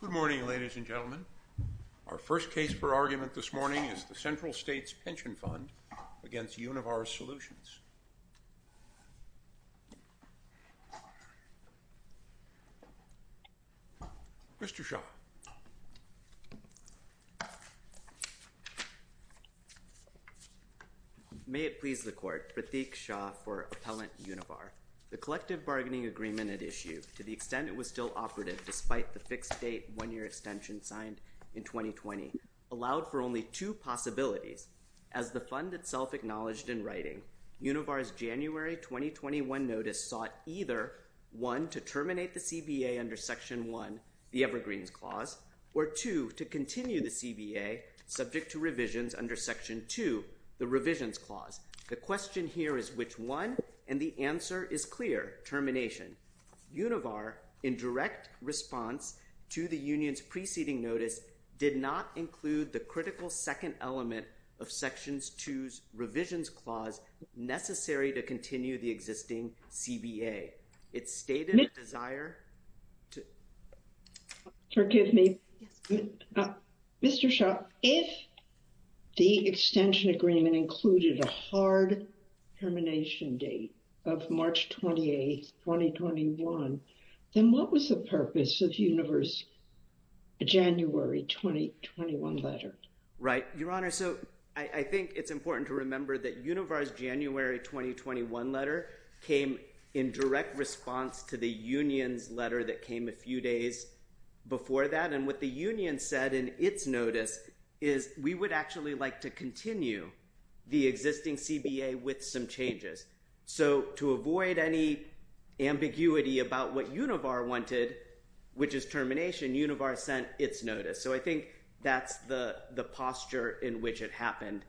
Good morning ladies and gentlemen. Our first case for argument this morning is the Central States Pension Fund against Univar Solutions. Mr. Shaw. May it please the court. Mr. Shaw for appellant Univar. The collective bargaining agreement at issue to the extent it was still operative despite the fixed date one year extension signed in 2020 allowed for only two possibilities as the fund itself acknowledged in writing Univars January 2021 notice sought either one to terminate the CBA under section one, the Evergreens clause, or two to continue the CBA subject to revisions under section two, the revisions clause. The question here is which one and the answer is clear termination Univar in direct response to the union's preceding notice did not include the critical second element of sections to revisions clause necessary to continue the existing CBA. It stated desire to. Forgive me. Mr. Shaw, if the extension agreement included a hard termination date of March 28, 2021, then what was the purpose of universe. January 2021 letter. Right. Your honor. So I think it's important to remember that universe January 2021 letter came in direct response to the union's letter that came a few days before that. And what the union said in its notice is we would actually like to continue the existing CBA with some changes. So to avoid any ambiguity about what Univar wanted, which is termination Univar sent its notice. So I think that's the posture in which it happened.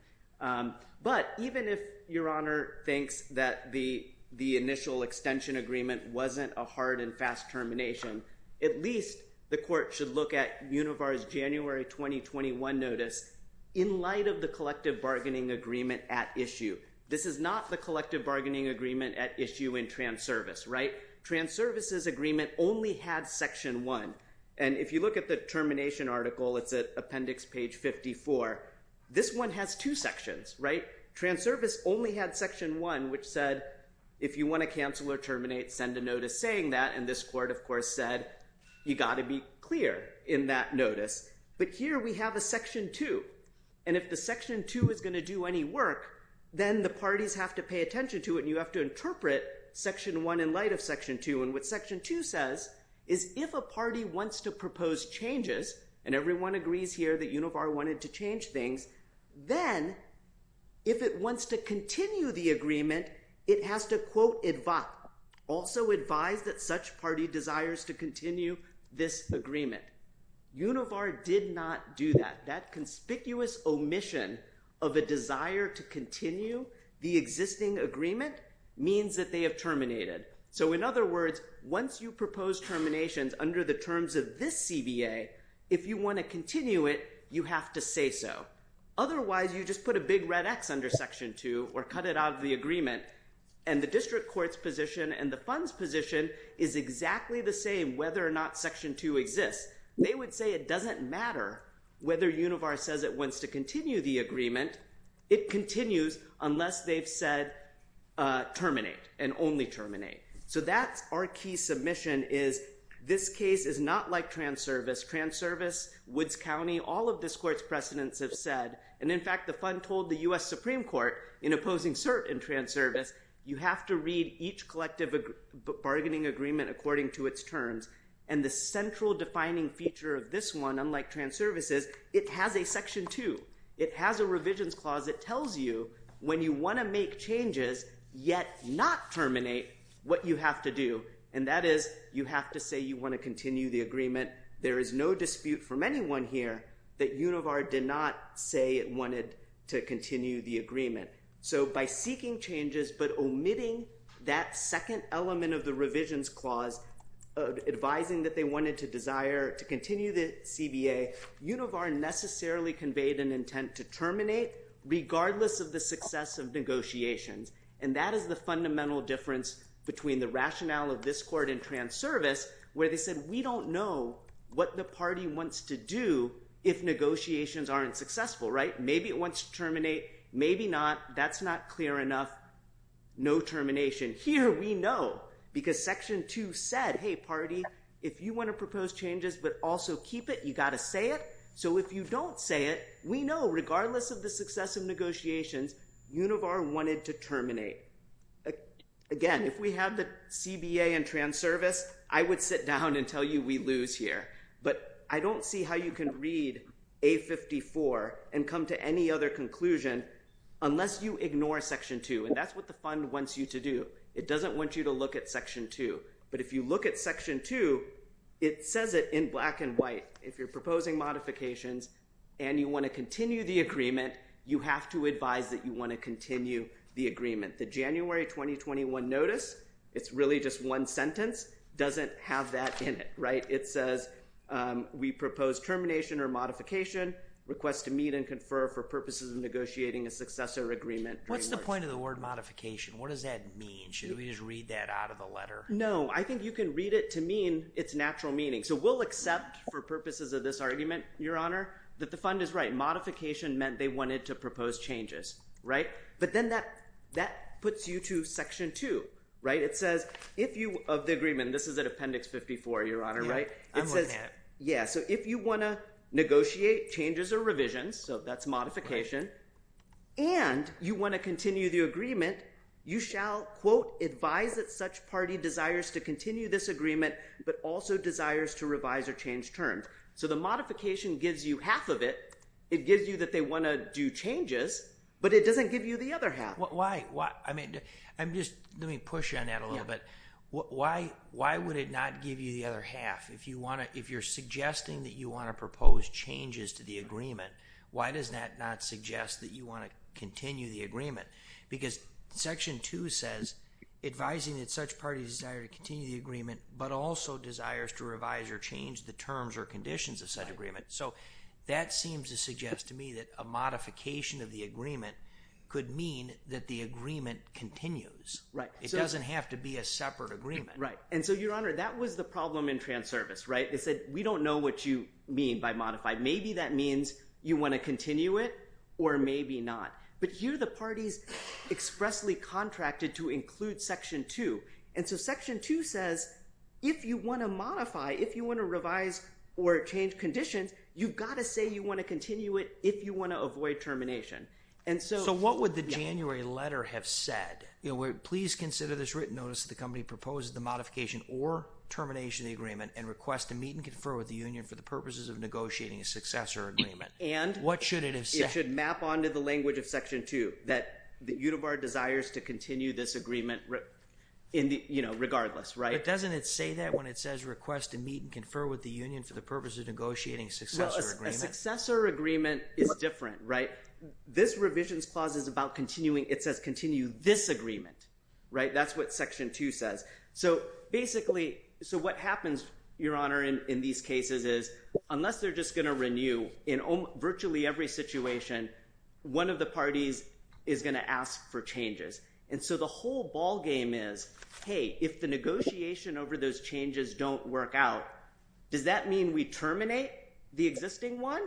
But even if your honor thinks that the the initial extension agreement wasn't a hard and fast termination, at least the court should look at universe January 2021 notice in light of the collective bargaining agreement at issue. This is not the collective bargaining agreement at issue in trans service. Right. Trans services agreement only had section one. And if you look at the termination article, it's an appendix page 54. This one has two sections. Right. Trans service only had section one, which said, if you want to cancel or terminate, send a notice saying that. And this court, of course, said you got to be clear in that notice. But here we have a section two. And if the section two is going to do any work, then the parties have to pay attention to it. You have to interpret section one in light of section two. And what section two says is if a party wants to propose changes and everyone agrees here that Univar wanted to change things, then. If it wants to continue the agreement, it has to quote advice also advise that such party desires to continue this agreement. Univar did not do that. That conspicuous omission of a desire to continue the existing agreement means that they have terminated. So, in other words, once you propose terminations under the terms of this CBA, if you want to continue it, you have to say so. Otherwise, you just put a big red X under section two or cut it out of the agreement and the district courts position and the funds position is exactly the same whether or not section two exists. They would say it doesn't matter whether Univar says it wants to continue the agreement. It continues unless they've said terminate and only terminate. So, that's our key submission is this case is not like trans service, trans service, Woods County, all of this court's precedents have said. And in fact, the fund told the US Supreme Court in opposing cert in trans service, you have to read each collective bargaining agreement according to its terms and the central defining feature of this one. Unlike trans services, it has a section two. It has a revisions clause that tells you when you want to make changes, yet not terminate what you have to do. And that is you have to say you want to continue the agreement. There is no dispute from anyone here that Univar did not say it wanted to continue the agreement. So, by seeking changes, but omitting that second element of the revisions clause, advising that they wanted to desire to continue the CBA, Univar necessarily conveyed an intent to terminate regardless of the success of negotiations. And that is the fundamental difference between the rationale of this court and trans service, where they said, we don't know what the party wants to do if negotiations aren't successful, right? Maybe it wants to terminate. Maybe not. That's not clear enough. Again, if we had the CBA and trans service, I would sit down and tell you we lose here, but I don't see how you can read a 54 and come to any other conclusion. Unless you ignore section two, and that's what the fund wants you to do. It doesn't want you to look at section two. But if you look at section two, it says it in black and white. If you're proposing modifications, and you want to continue the agreement, you have to advise that you want to continue the agreement. The January 2021 notice, it's really just one sentence, doesn't have that in it, right? It says, we propose termination or modification, request to meet and confer for purposes of negotiating a successor agreement. What's the point of the word modification? What does that mean? Should we just read that out of the letter? No, I think you can read it to mean its natural meaning. So we'll accept for purposes of this argument, Your Honor, that the fund is right. Modification meant they wanted to propose changes, right? But then that puts you to section two, right? It says, if you have the agreement, this is an appendix 54, Your Honor, right? It says, yeah. So if you want to negotiate changes or revisions, so that's modification, and you want to continue the agreement, you shall quote, advise that such party desires to continue this agreement, but also desires to revise or change terms. So the modification gives you half of it. It gives you that they want to do changes, but it doesn't give you the other half. Let me push on that a little bit. Why would it not give you the other half? If you're suggesting that you want to propose changes to the agreement, why does that not suggest that you want to continue the agreement? Because section two says advising that such parties desire to continue the agreement, but also desires to revise or change the terms or conditions of such agreement. So that seems to suggest to me that a modification of the agreement could mean that the agreement continues. It doesn't have to be a separate agreement. Right. And so, Your Honor, that was the problem in Transervice, right? They said, we don't know what you mean by modified. Maybe that means you want to continue it or maybe not. But here the parties expressly contracted to include section two. And so section two says, if you want to modify, if you want to revise or change conditions, you've got to say you want to continue it if you want to avoid termination. So what would the January letter have said? Please consider this written notice that the company proposes the modification or termination of the agreement and request to meet and confer with the union for the purposes of negotiating a successor agreement. And what should it have said? It should map on to the language of section two that Unibar desires to continue this agreement regardless, right? But doesn't it say that when it says request to meet and confer with the union for the purposes of negotiating a successor agreement? A successor agreement is different, right? This revisions clause is about continuing. It says continue this agreement, right? That's what section two says. So basically, so what happens, Your Honor, in these cases is unless they're just going to renew in virtually every situation, one of the parties is going to ask for changes. And so the whole ballgame is, hey, if the negotiation over those changes don't work out, does that mean we terminate the existing one?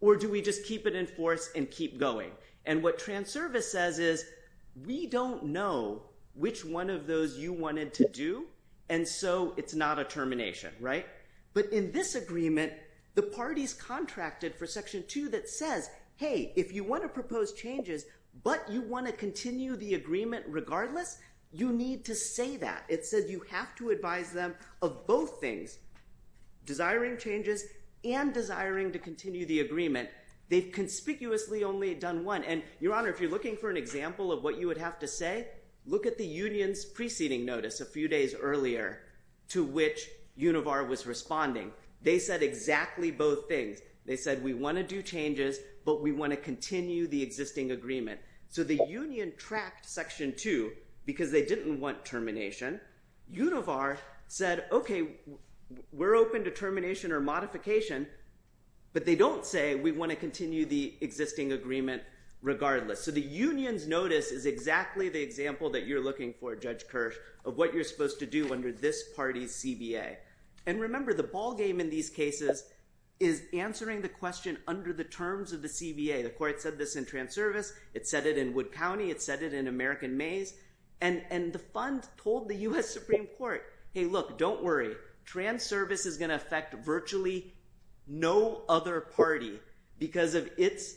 Or do we just keep it in force and keep going? And what Transervice says is we don't know which one of those you wanted to do, and so it's not a termination, right? But in this agreement, the parties contracted for section two that says, hey, if you want to propose changes, but you want to continue the agreement regardless, you need to say that. It says you have to advise them of both things, desiring changes and desiring to continue the agreement. They've conspicuously only done one, and Your Honor, if you're looking for an example of what you would have to say, look at the union's preceding notice a few days earlier to which Univar was responding. They said exactly both things. They said we want to do changes, but we want to continue the existing agreement. So the union tracked section two because they didn't want termination. Univar said, okay, we're open to termination or modification, but they don't say we want to continue the existing agreement regardless. So the union's notice is exactly the example that you're looking for, Judge Kirsch, of what you're supposed to do under this party's CBA. And remember, the ballgame in these cases is answering the question under the terms of the CBA. The court said this in Transervice. It said it in Wood County. It said it in American Maze. And the fund told the U.S. Supreme Court, hey, look, don't worry. Transervice is going to affect virtually no other party because of its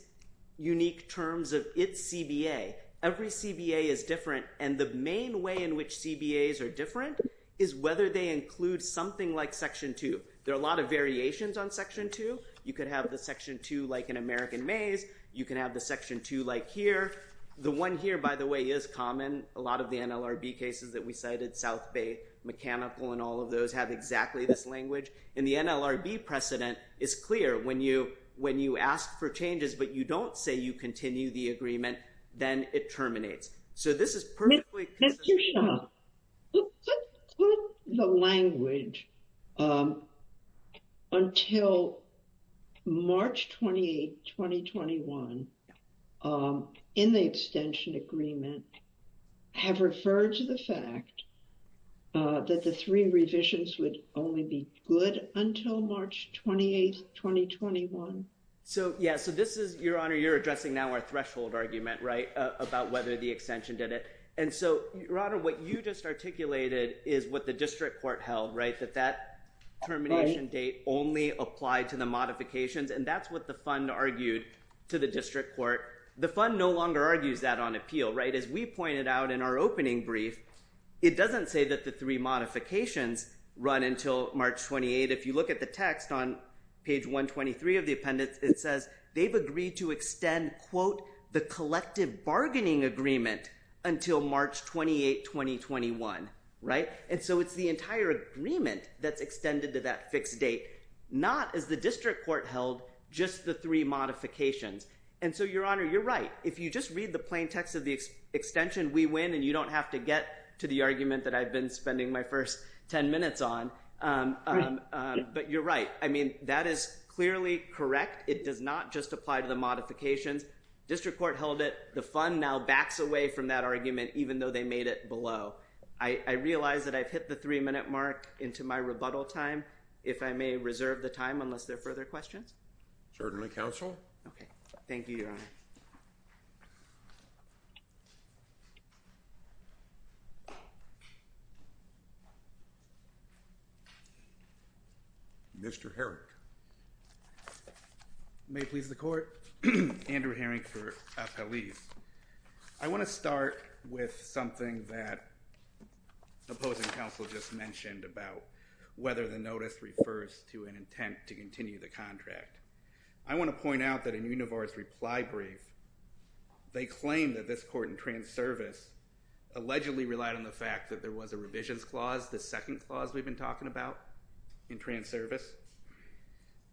unique terms of its CBA. Every CBA is different, and the main way in which CBAs are different is whether they include something like section two. There are a lot of variations on section two. You could have the section two like in American Maze. You can have the section two like here. The one here, by the way, is common. A lot of the NLRB cases that we cited, South Bay Mechanical and all of those, have exactly this language. And the NLRB precedent is clear. When you ask for changes but you don't say you continue the agreement, then it terminates. Mr. Shah, would the language until March 28, 2021, in the extension agreement, have referred to the fact that the three revisions would only be good until March 28, 2021? So, yeah, so this is, Your Honor, you're addressing now our threshold argument, right, about whether the extension did it. And so, Your Honor, what you just articulated is what the district court held, right, that that termination date only applied to the modifications. And that's what the fund argued to the district court. The fund no longer argues that on appeal, right? As we pointed out in our opening brief, it doesn't say that the three modifications run until March 28. If you look at the text on page 123 of the appendix, it says they've agreed to extend, quote, the collective bargaining agreement until March 28, 2021, right? And so it's the entire agreement that's extended to that fixed date, not, as the district court held, just the three modifications. And so, Your Honor, you're right. If you just read the plain text of the extension, we win, and you don't have to get to the argument that I've been spending my first 10 minutes on. But you're right. I mean, that is clearly correct. It does not just apply to the modifications. District court held it. The fund now backs away from that argument, even though they made it below. I realize that I've hit the three-minute mark into my rebuttal time, if I may reserve the time, unless there are further questions. Certainly, Counsel. Okay. Thank you, Your Honor. Mr. Herring. May it please the court. Andrew Herring for Appellees. I want to start with something that the opposing counsel just mentioned about whether the notice refers to an intent to continue the contract. I want to point out that in Univar's reply brief, they claim that this court in trans service allegedly relied on the fact that there was a revisions clause, the second clause we've been talking about in trans service,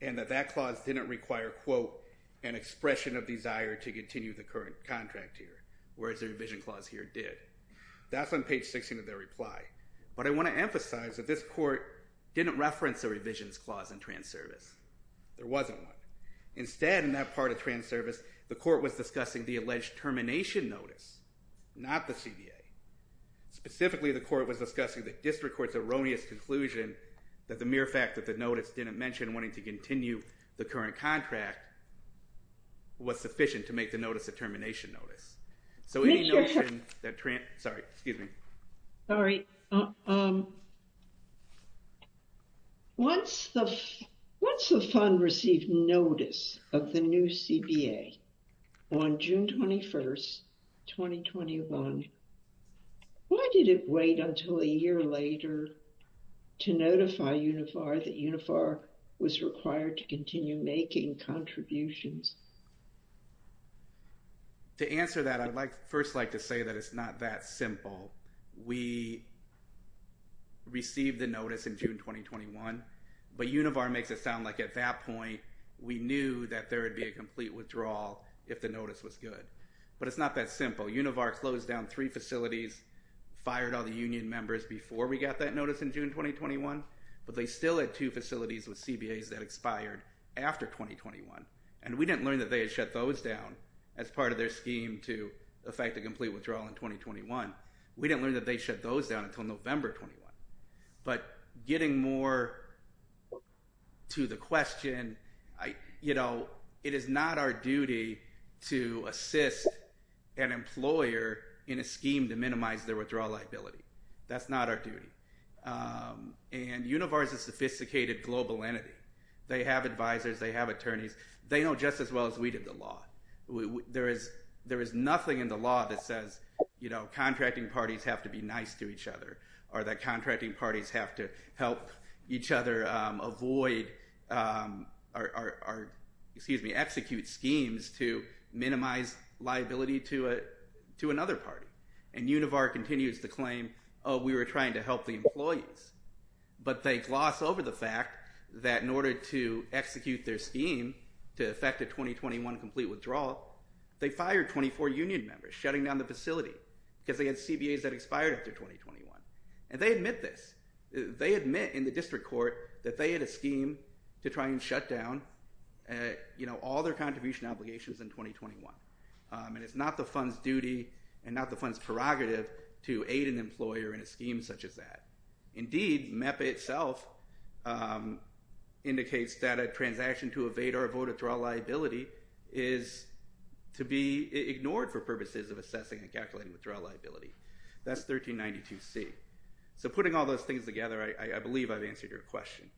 and that that clause didn't require, quote, an expression of desire to continue the current contract here, whereas the revision clause here did. That's on page 16 of their reply. But I want to emphasize that this court didn't reference the revisions clause in trans service. There wasn't one. Instead, in that part of trans service, the court was discussing the alleged termination notice, not the CBA. Specifically, the court was discussing the district court's erroneous conclusion that the mere fact that the notice didn't mention wanting to continue the current contract was sufficient to make the notice a termination notice. Sorry, excuse me. Once the fund received notice of the new CBA on June 21st, 2021, why did it wait until a year later to notify Univar that Univar was required to continue making contributions? To answer that, I'd first like to say that it's not that simple. We received the notice in June 2021, but Univar makes it sound like at that point, we knew that there would be a complete withdrawal if the notice was good. But it's not that simple. Univar closed down three facilities, fired all the union members before we got that notice in June 2021, but they still had two facilities with CBAs that expired after 2021. And we didn't learn that they had shut those down as part of their scheme to effect a complete withdrawal in 2021. We didn't learn that they shut those down until November 21. But getting more to the question, you know, it is not our duty to assist an employer in a scheme to minimize their withdrawal liability. That's not our duty. And Univar is a sophisticated global entity. They have advisors. They have attorneys. They know just as well as we did the law. There is nothing in the law that says, you know, contracting parties have to be nice to each other or that contracting parties have to help each other avoid or, excuse me, execute schemes to minimize liability to another party. And Univar continues to claim, oh, we were trying to help the employees. But they gloss over the fact that in order to execute their scheme to effect a 2021 complete withdrawal, they fired 24 union members shutting down the facility because they had CBAs that expired after 2021. And they admit this. They admit in the district court that they had a scheme to try and shut down, you know, all their contribution obligations in 2021. And it's not the fund's duty and not the fund's prerogative to aid an employer in a scheme such as that. Indeed, MEPA itself indicates that a transaction to evade or avoid a withdrawal liability is to be ignored for purposes of assessing and calculating withdrawal liability. That's 1392C. So putting all those things together, I believe I've answered your question.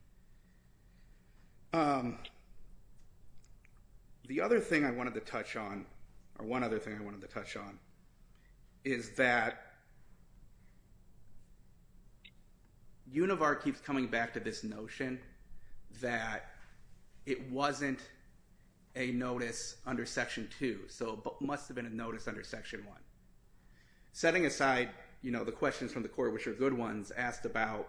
The other thing I wanted to touch on or one other thing I wanted to touch on is that Univar keeps coming back to this notion that it wasn't a notice under Section 2. So it must have been a notice under Section 1. Setting aside, you know, the questions from the court, which are good ones, asked about,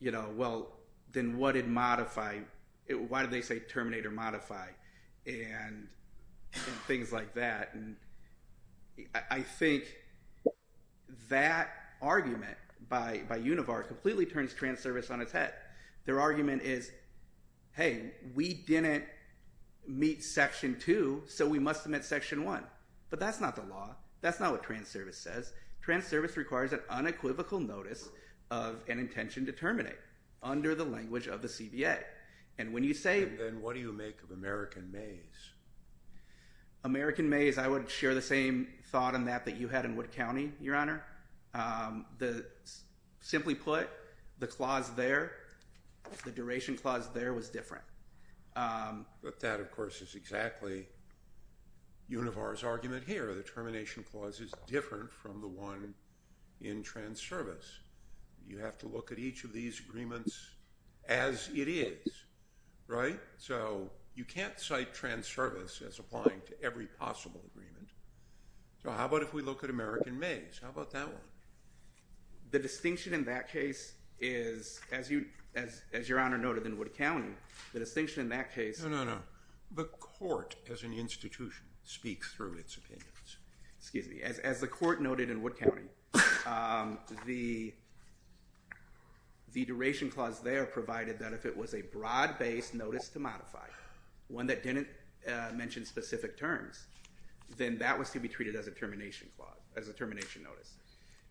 you know, well, then what did modify it? Why did they say terminate or modify and things like that? And I think that argument by Univar completely turns Transervice on its head. Their argument is, hey, we didn't meet Section 2, so we must have met Section 1. But that's not the law. That's not what Transervice says. Transervice requires an unequivocal notice of an intention to terminate under the language of the CBA. And when you say— Then what do you make of American Mays? American Mays, I would share the same thought on that that you had in Wood County, Your Honor. Simply put, the clause there, the duration clause there was different. But that, of course, is exactly Univar's argument here. The termination clause is different from the one in Transervice. You have to look at each of these agreements as it is, right? So you can't cite Transservice as applying to every possible agreement. So how about if we look at American Mays? How about that one? The distinction in that case is, as Your Honor noted in Wood County, the distinction in that case— No, no, no. The court as an institution speaks through its opinions. Excuse me. As the court noted in Wood County, the duration clause there provided that if it was a broad-based notice to modify, one that didn't mention specific terms, then that was to be treated as a termination clause, as a termination notice.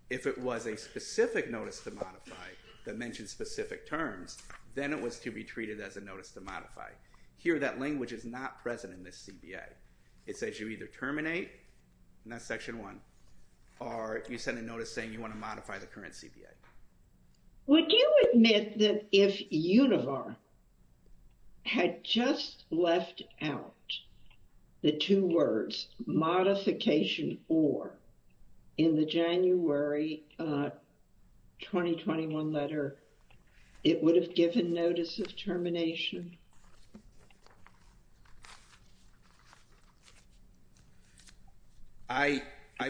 If it was a specific notice to modify that mentioned specific terms, then it was to be treated as a notice to modify. Here, that language is not present in this CBA. It says you either terminate, and that's Section 1, or you send a notice saying you want to modify the current CBA. Would you admit that if Univar had just left out the two words modification or in the January 2021 letter, it would have given notice of termination? I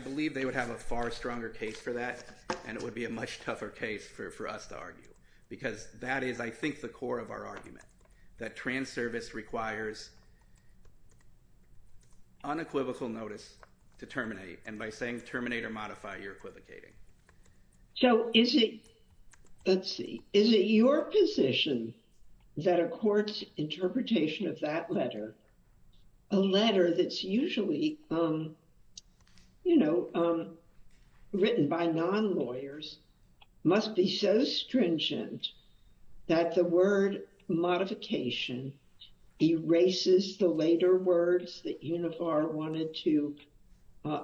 believe they would have a far stronger case for that, and it would be a much tougher case for us to argue, because that is, I think, the core of our argument, that trans service requires unequivocal notice to terminate, and by saying terminate or modify, you're equivocating. So is it, let's see, is it your position that a court's interpretation of that letter, a letter that's usually, you know, written by non-lawyers, must be so stringent that the word modification erases the later words that Univar wanted to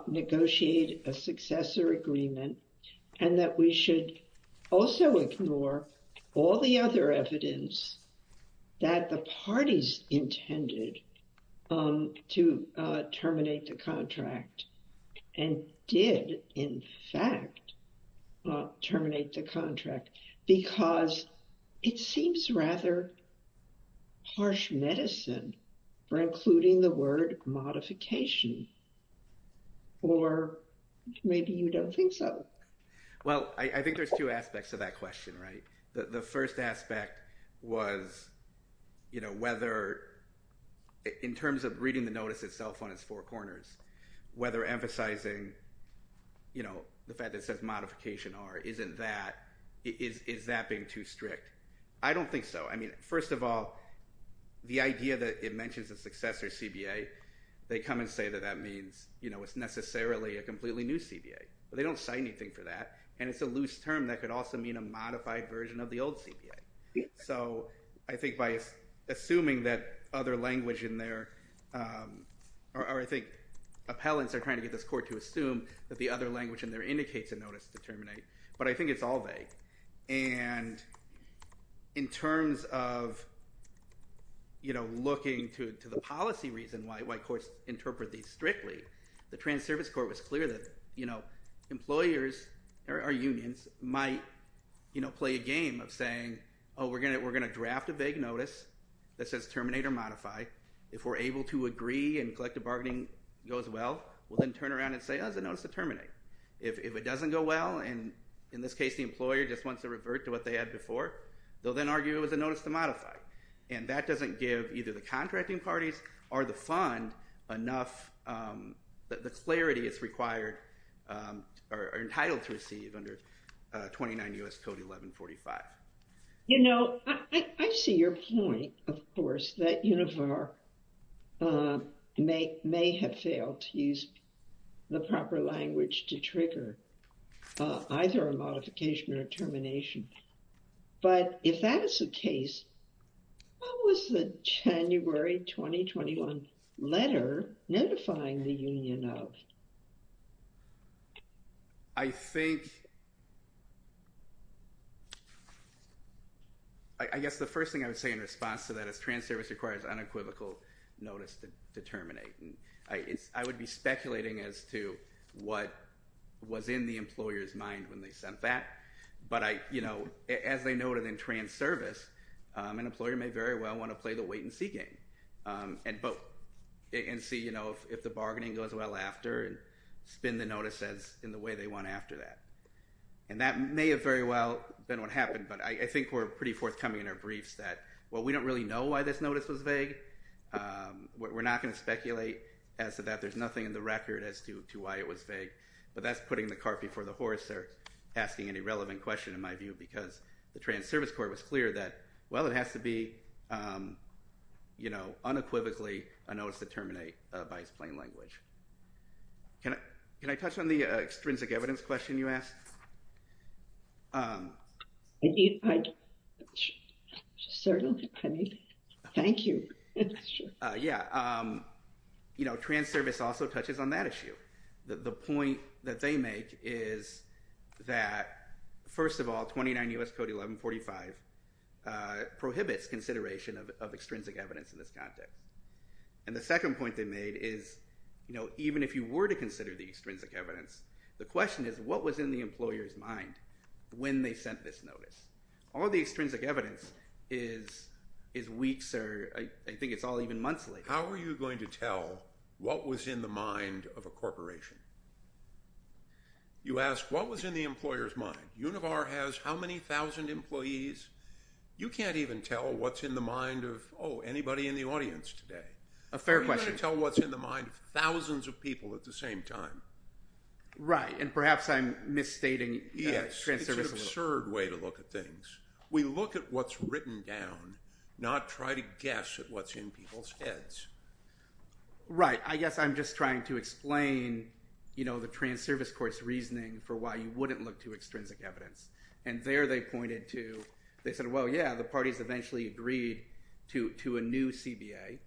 negotiate a successor agreement and that we should also ignore all the other evidence that the parties intended to terminate the contract and did, in fact, terminate the contract? Because it seems rather harsh medicine for including the word modification, or maybe you don't think so. Well, I think there's two aspects to that question, right? The first aspect was, you know, whether, in terms of reading the notice itself on its four corners, whether emphasizing, you know, the fact that it says modification or isn't that, is that being too strict? I don't think so. I mean, first of all, the idea that it mentions a successor CBA, they come and say that that means, you know, it's necessarily a completely new CBA. They don't cite anything for that, and it's a loose term that could also mean a modified version of the old CBA. So I think by assuming that other language in there, or I think appellants are trying to get this court to assume that the other language in there indicates a notice to terminate, but I think it's all vague. And in terms of, you know, looking to the policy reason why courts interpret these strictly, the Trans Service Court was clear that, you know, employers or unions might, you know, play a game of saying, oh, we're going to draft a vague notice that says terminate or modify. If we're able to agree and collective bargaining goes well, we'll then turn around and say, oh, there's a notice to terminate. If it doesn't go well, and in this case the employer just wants to revert to what they had before, they'll then argue it was a notice to modify. And that doesn't give either the contracting parties or the fund enough that the clarity is required or entitled to receive under 29 U.S. Code 1145. You know, I see your point, of course, that Univar may have failed to use the proper language to trigger either a modification or termination. But if that is the case, what was the January 2021 letter notifying the union of? I think, I guess the first thing I would say in response to that is Trans Service requires unequivocal notice to terminate. And I would be speculating as to what was in the employer's mind when they sent that. But, you know, as they noted in Trans Service, an employer may very well want to play the wait-and-see game and see if the bargaining goes well after and spin the notice in the way they want after that. And that may have very well been what happened, but I think we're pretty forthcoming in our briefs that, well, we don't really know why this notice was vague. We're not going to speculate as to that. There's nothing in the record as to why it was vague. But that's putting the cart before the horse there, asking an irrelevant question, in my view, because the Trans Service court was clear that, well, it has to be unequivocally a notice to terminate by its plain language. Can I touch on the extrinsic evidence question you asked? Certainly. Thank you. Yeah. You know, Trans Service also touches on that issue. The point that they make is that, first of all, 29 U.S. Code 1145 prohibits consideration of extrinsic evidence in this context. And the second point they made is, you know, even if you were to consider the extrinsic evidence, the question is what was in the employer's mind when they sent this notice. All the extrinsic evidence is weeks or I think it's all even months later. How are you going to tell what was in the mind of a corporation? You ask, what was in the employer's mind? Univar has how many thousand employees? You can't even tell what's in the mind of, oh, anybody in the audience today. A fair question. How are you going to tell what's in the mind of thousands of people at the same time? Right. And perhaps I'm misstating Trans Service a little. Yes. It's an absurd way to look at things. We look at what's written down, not try to guess at what's in people's heads. Right. I guess I'm just trying to explain, you know, the Trans Service Court's reasoning for why you wouldn't look to extrinsic evidence. And there they pointed to, they said, well, yeah, the parties eventually agreed to a new CBA.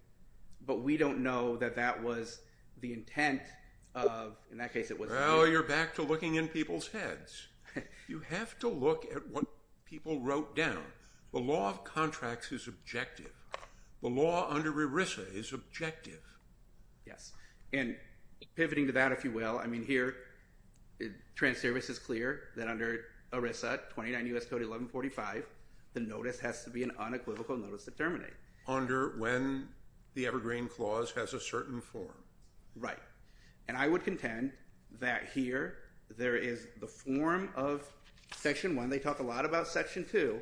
But we don't know that that was the intent of, in that case it was. Well, you're back to looking in people's heads. You have to look at what people wrote down. The law of contracts is objective. The law under ERISA is objective. Yes. And pivoting to that, if you will, I mean, here, Trans Service is clear that under ERISA 29 U.S. Code 1145, the notice has to be an unequivocal notice to terminate. Under when the Evergreen Clause has a certain form. Right. And I would contend that here there is the form of Section 1. They talk a lot about Section 2.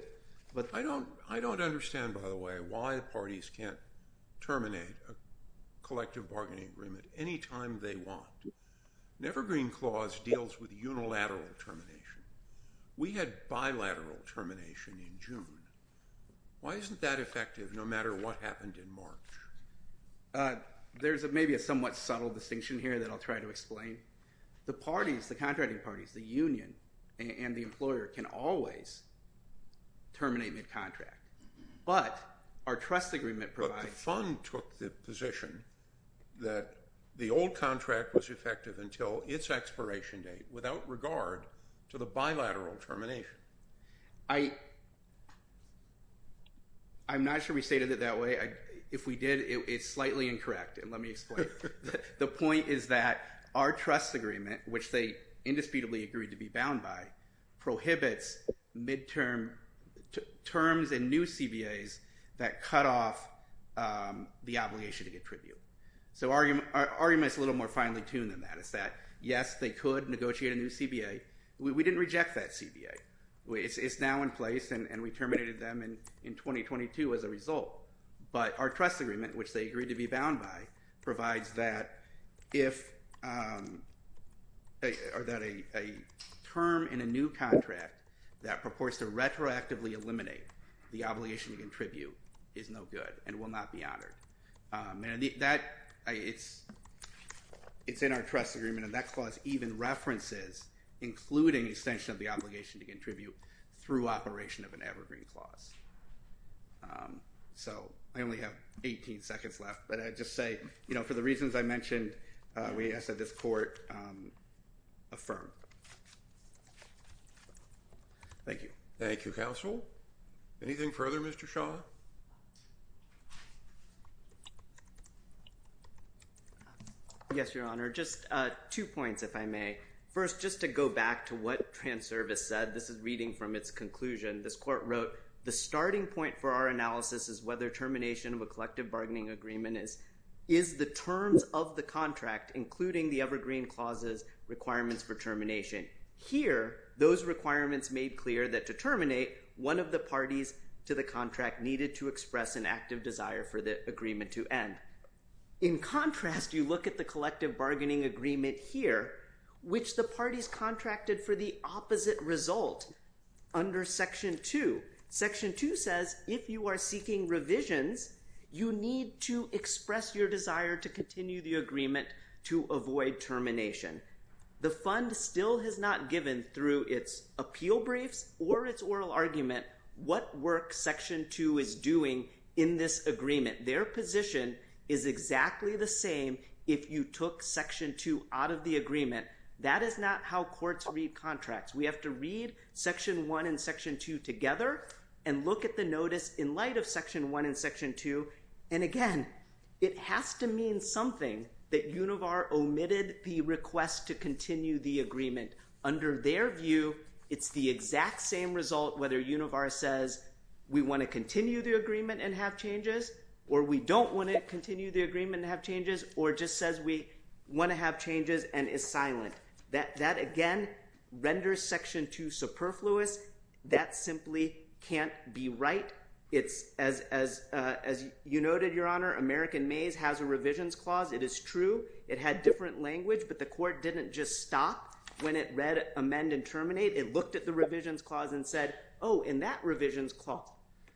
I don't understand, by the way, why parties can't terminate a collective bargaining agreement any time they want. The Evergreen Clause deals with unilateral termination. We had bilateral termination in June. Why isn't that effective no matter what happened in March? There's maybe a somewhat subtle distinction here that I'll try to explain. The parties, the contracting parties, the union and the employer, can always terminate mid-contract. But our trust agreement provides- But the fund took the position that the old contract was effective until its expiration date without regard to the bilateral termination. I'm not sure we stated it that way. If we did, it's slightly incorrect, and let me explain. The point is that our trust agreement, which they indisputably agreed to be bound by, prohibits mid-term terms in new CBAs that cut off the obligation to get tribute. So our argument is a little more finely tuned than that. It's that, yes, they could negotiate a new CBA. We didn't reject that CBA. It's now in place, and we terminated them in 2022 as a result. But our trust agreement, which they agreed to be bound by, provides that a term in a new contract that purports to retroactively eliminate the obligation to get tribute is no good and will not be honored. It's in our trust agreement, and that clause even references including extension of the obligation to get tribute through operation of an evergreen clause. So I only have 18 seconds left, but I just say, for the reasons I mentioned, we ask that this court affirm. Thank you. Thank you, Counsel. Anything further, Mr. Shaw? Yes, Your Honor. Just two points, if I may. First, just to go back to what Transervice said. This is reading from its conclusion. This court wrote, the starting point for our analysis is whether termination of a collective bargaining agreement is the terms of the contract, including the evergreen clause's requirements for termination. Here, those requirements made clear that to terminate, one of the parties to the contract needed to express an active desire for the agreement to end. In contrast, you look at the collective bargaining agreement here, which the parties contracted for the opposite result. Under Section 2, Section 2 says, if you are seeking revisions, you need to express your desire to continue the agreement to avoid termination. The fund still has not given through its appeal briefs or its oral argument what work Section 2 is doing in this agreement. Their position is exactly the same if you took Section 2 out of the agreement. That is not how courts read contracts. We have to read Section 1 and Section 2 together and look at the notice in light of Section 1 and Section 2. And again, it has to mean something that Univar omitted the request to continue the agreement. Under their view, it's the exact same result whether Univar says, we want to continue the agreement and have changes or we don't want to continue the agreement and have changes or just says we want to have changes and is silent. That, again, renders Section 2 superfluous. That simply can't be right. As you noted, Your Honor, American Maze has a revisions clause. It is true. It had different language, but the court didn't just stop when it read amend and terminate. It looked at the revisions clause and said, oh, in that revisions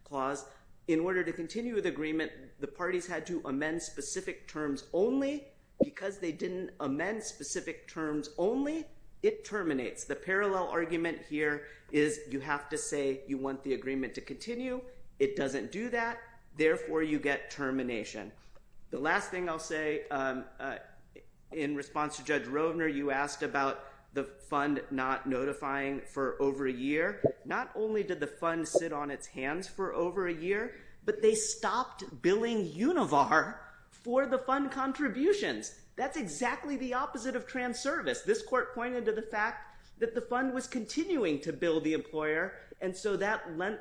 clause, in order to continue the agreement, the parties had to amend specific terms only because they didn't amend specific terms only, it terminates. The parallel argument here is you have to say you want the agreement to continue. It doesn't do that. Therefore, you get termination. The last thing I'll say in response to Judge Rovner, you asked about the fund not notifying for over a year. Not only did the fund sit on its hands for over a year, but they stopped billing Univar for the fund contributions. That's exactly the opposite of transervice. This court pointed to the fact that the fund was continuing to bill the employer, and so that lent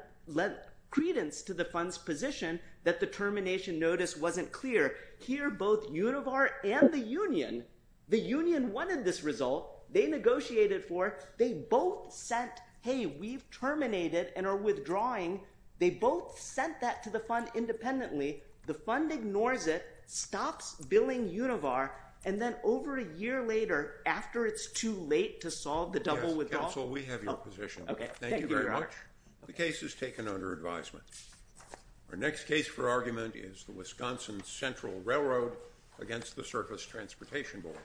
credence to the fund's position that the termination notice wasn't clear. Here, both Univar and the union, the union wanted this result. They negotiated for it. They both said, hey, we've terminated and are withdrawing. They both sent that to the fund independently. The fund ignores it, stops billing Univar, and then over a year later, after it's too late to solve the double withdrawal. Counsel, we have your position. Thank you very much. The case is taken under advisement. Our next case for argument is the Wisconsin Central Railroad against the Surface Transportation Board.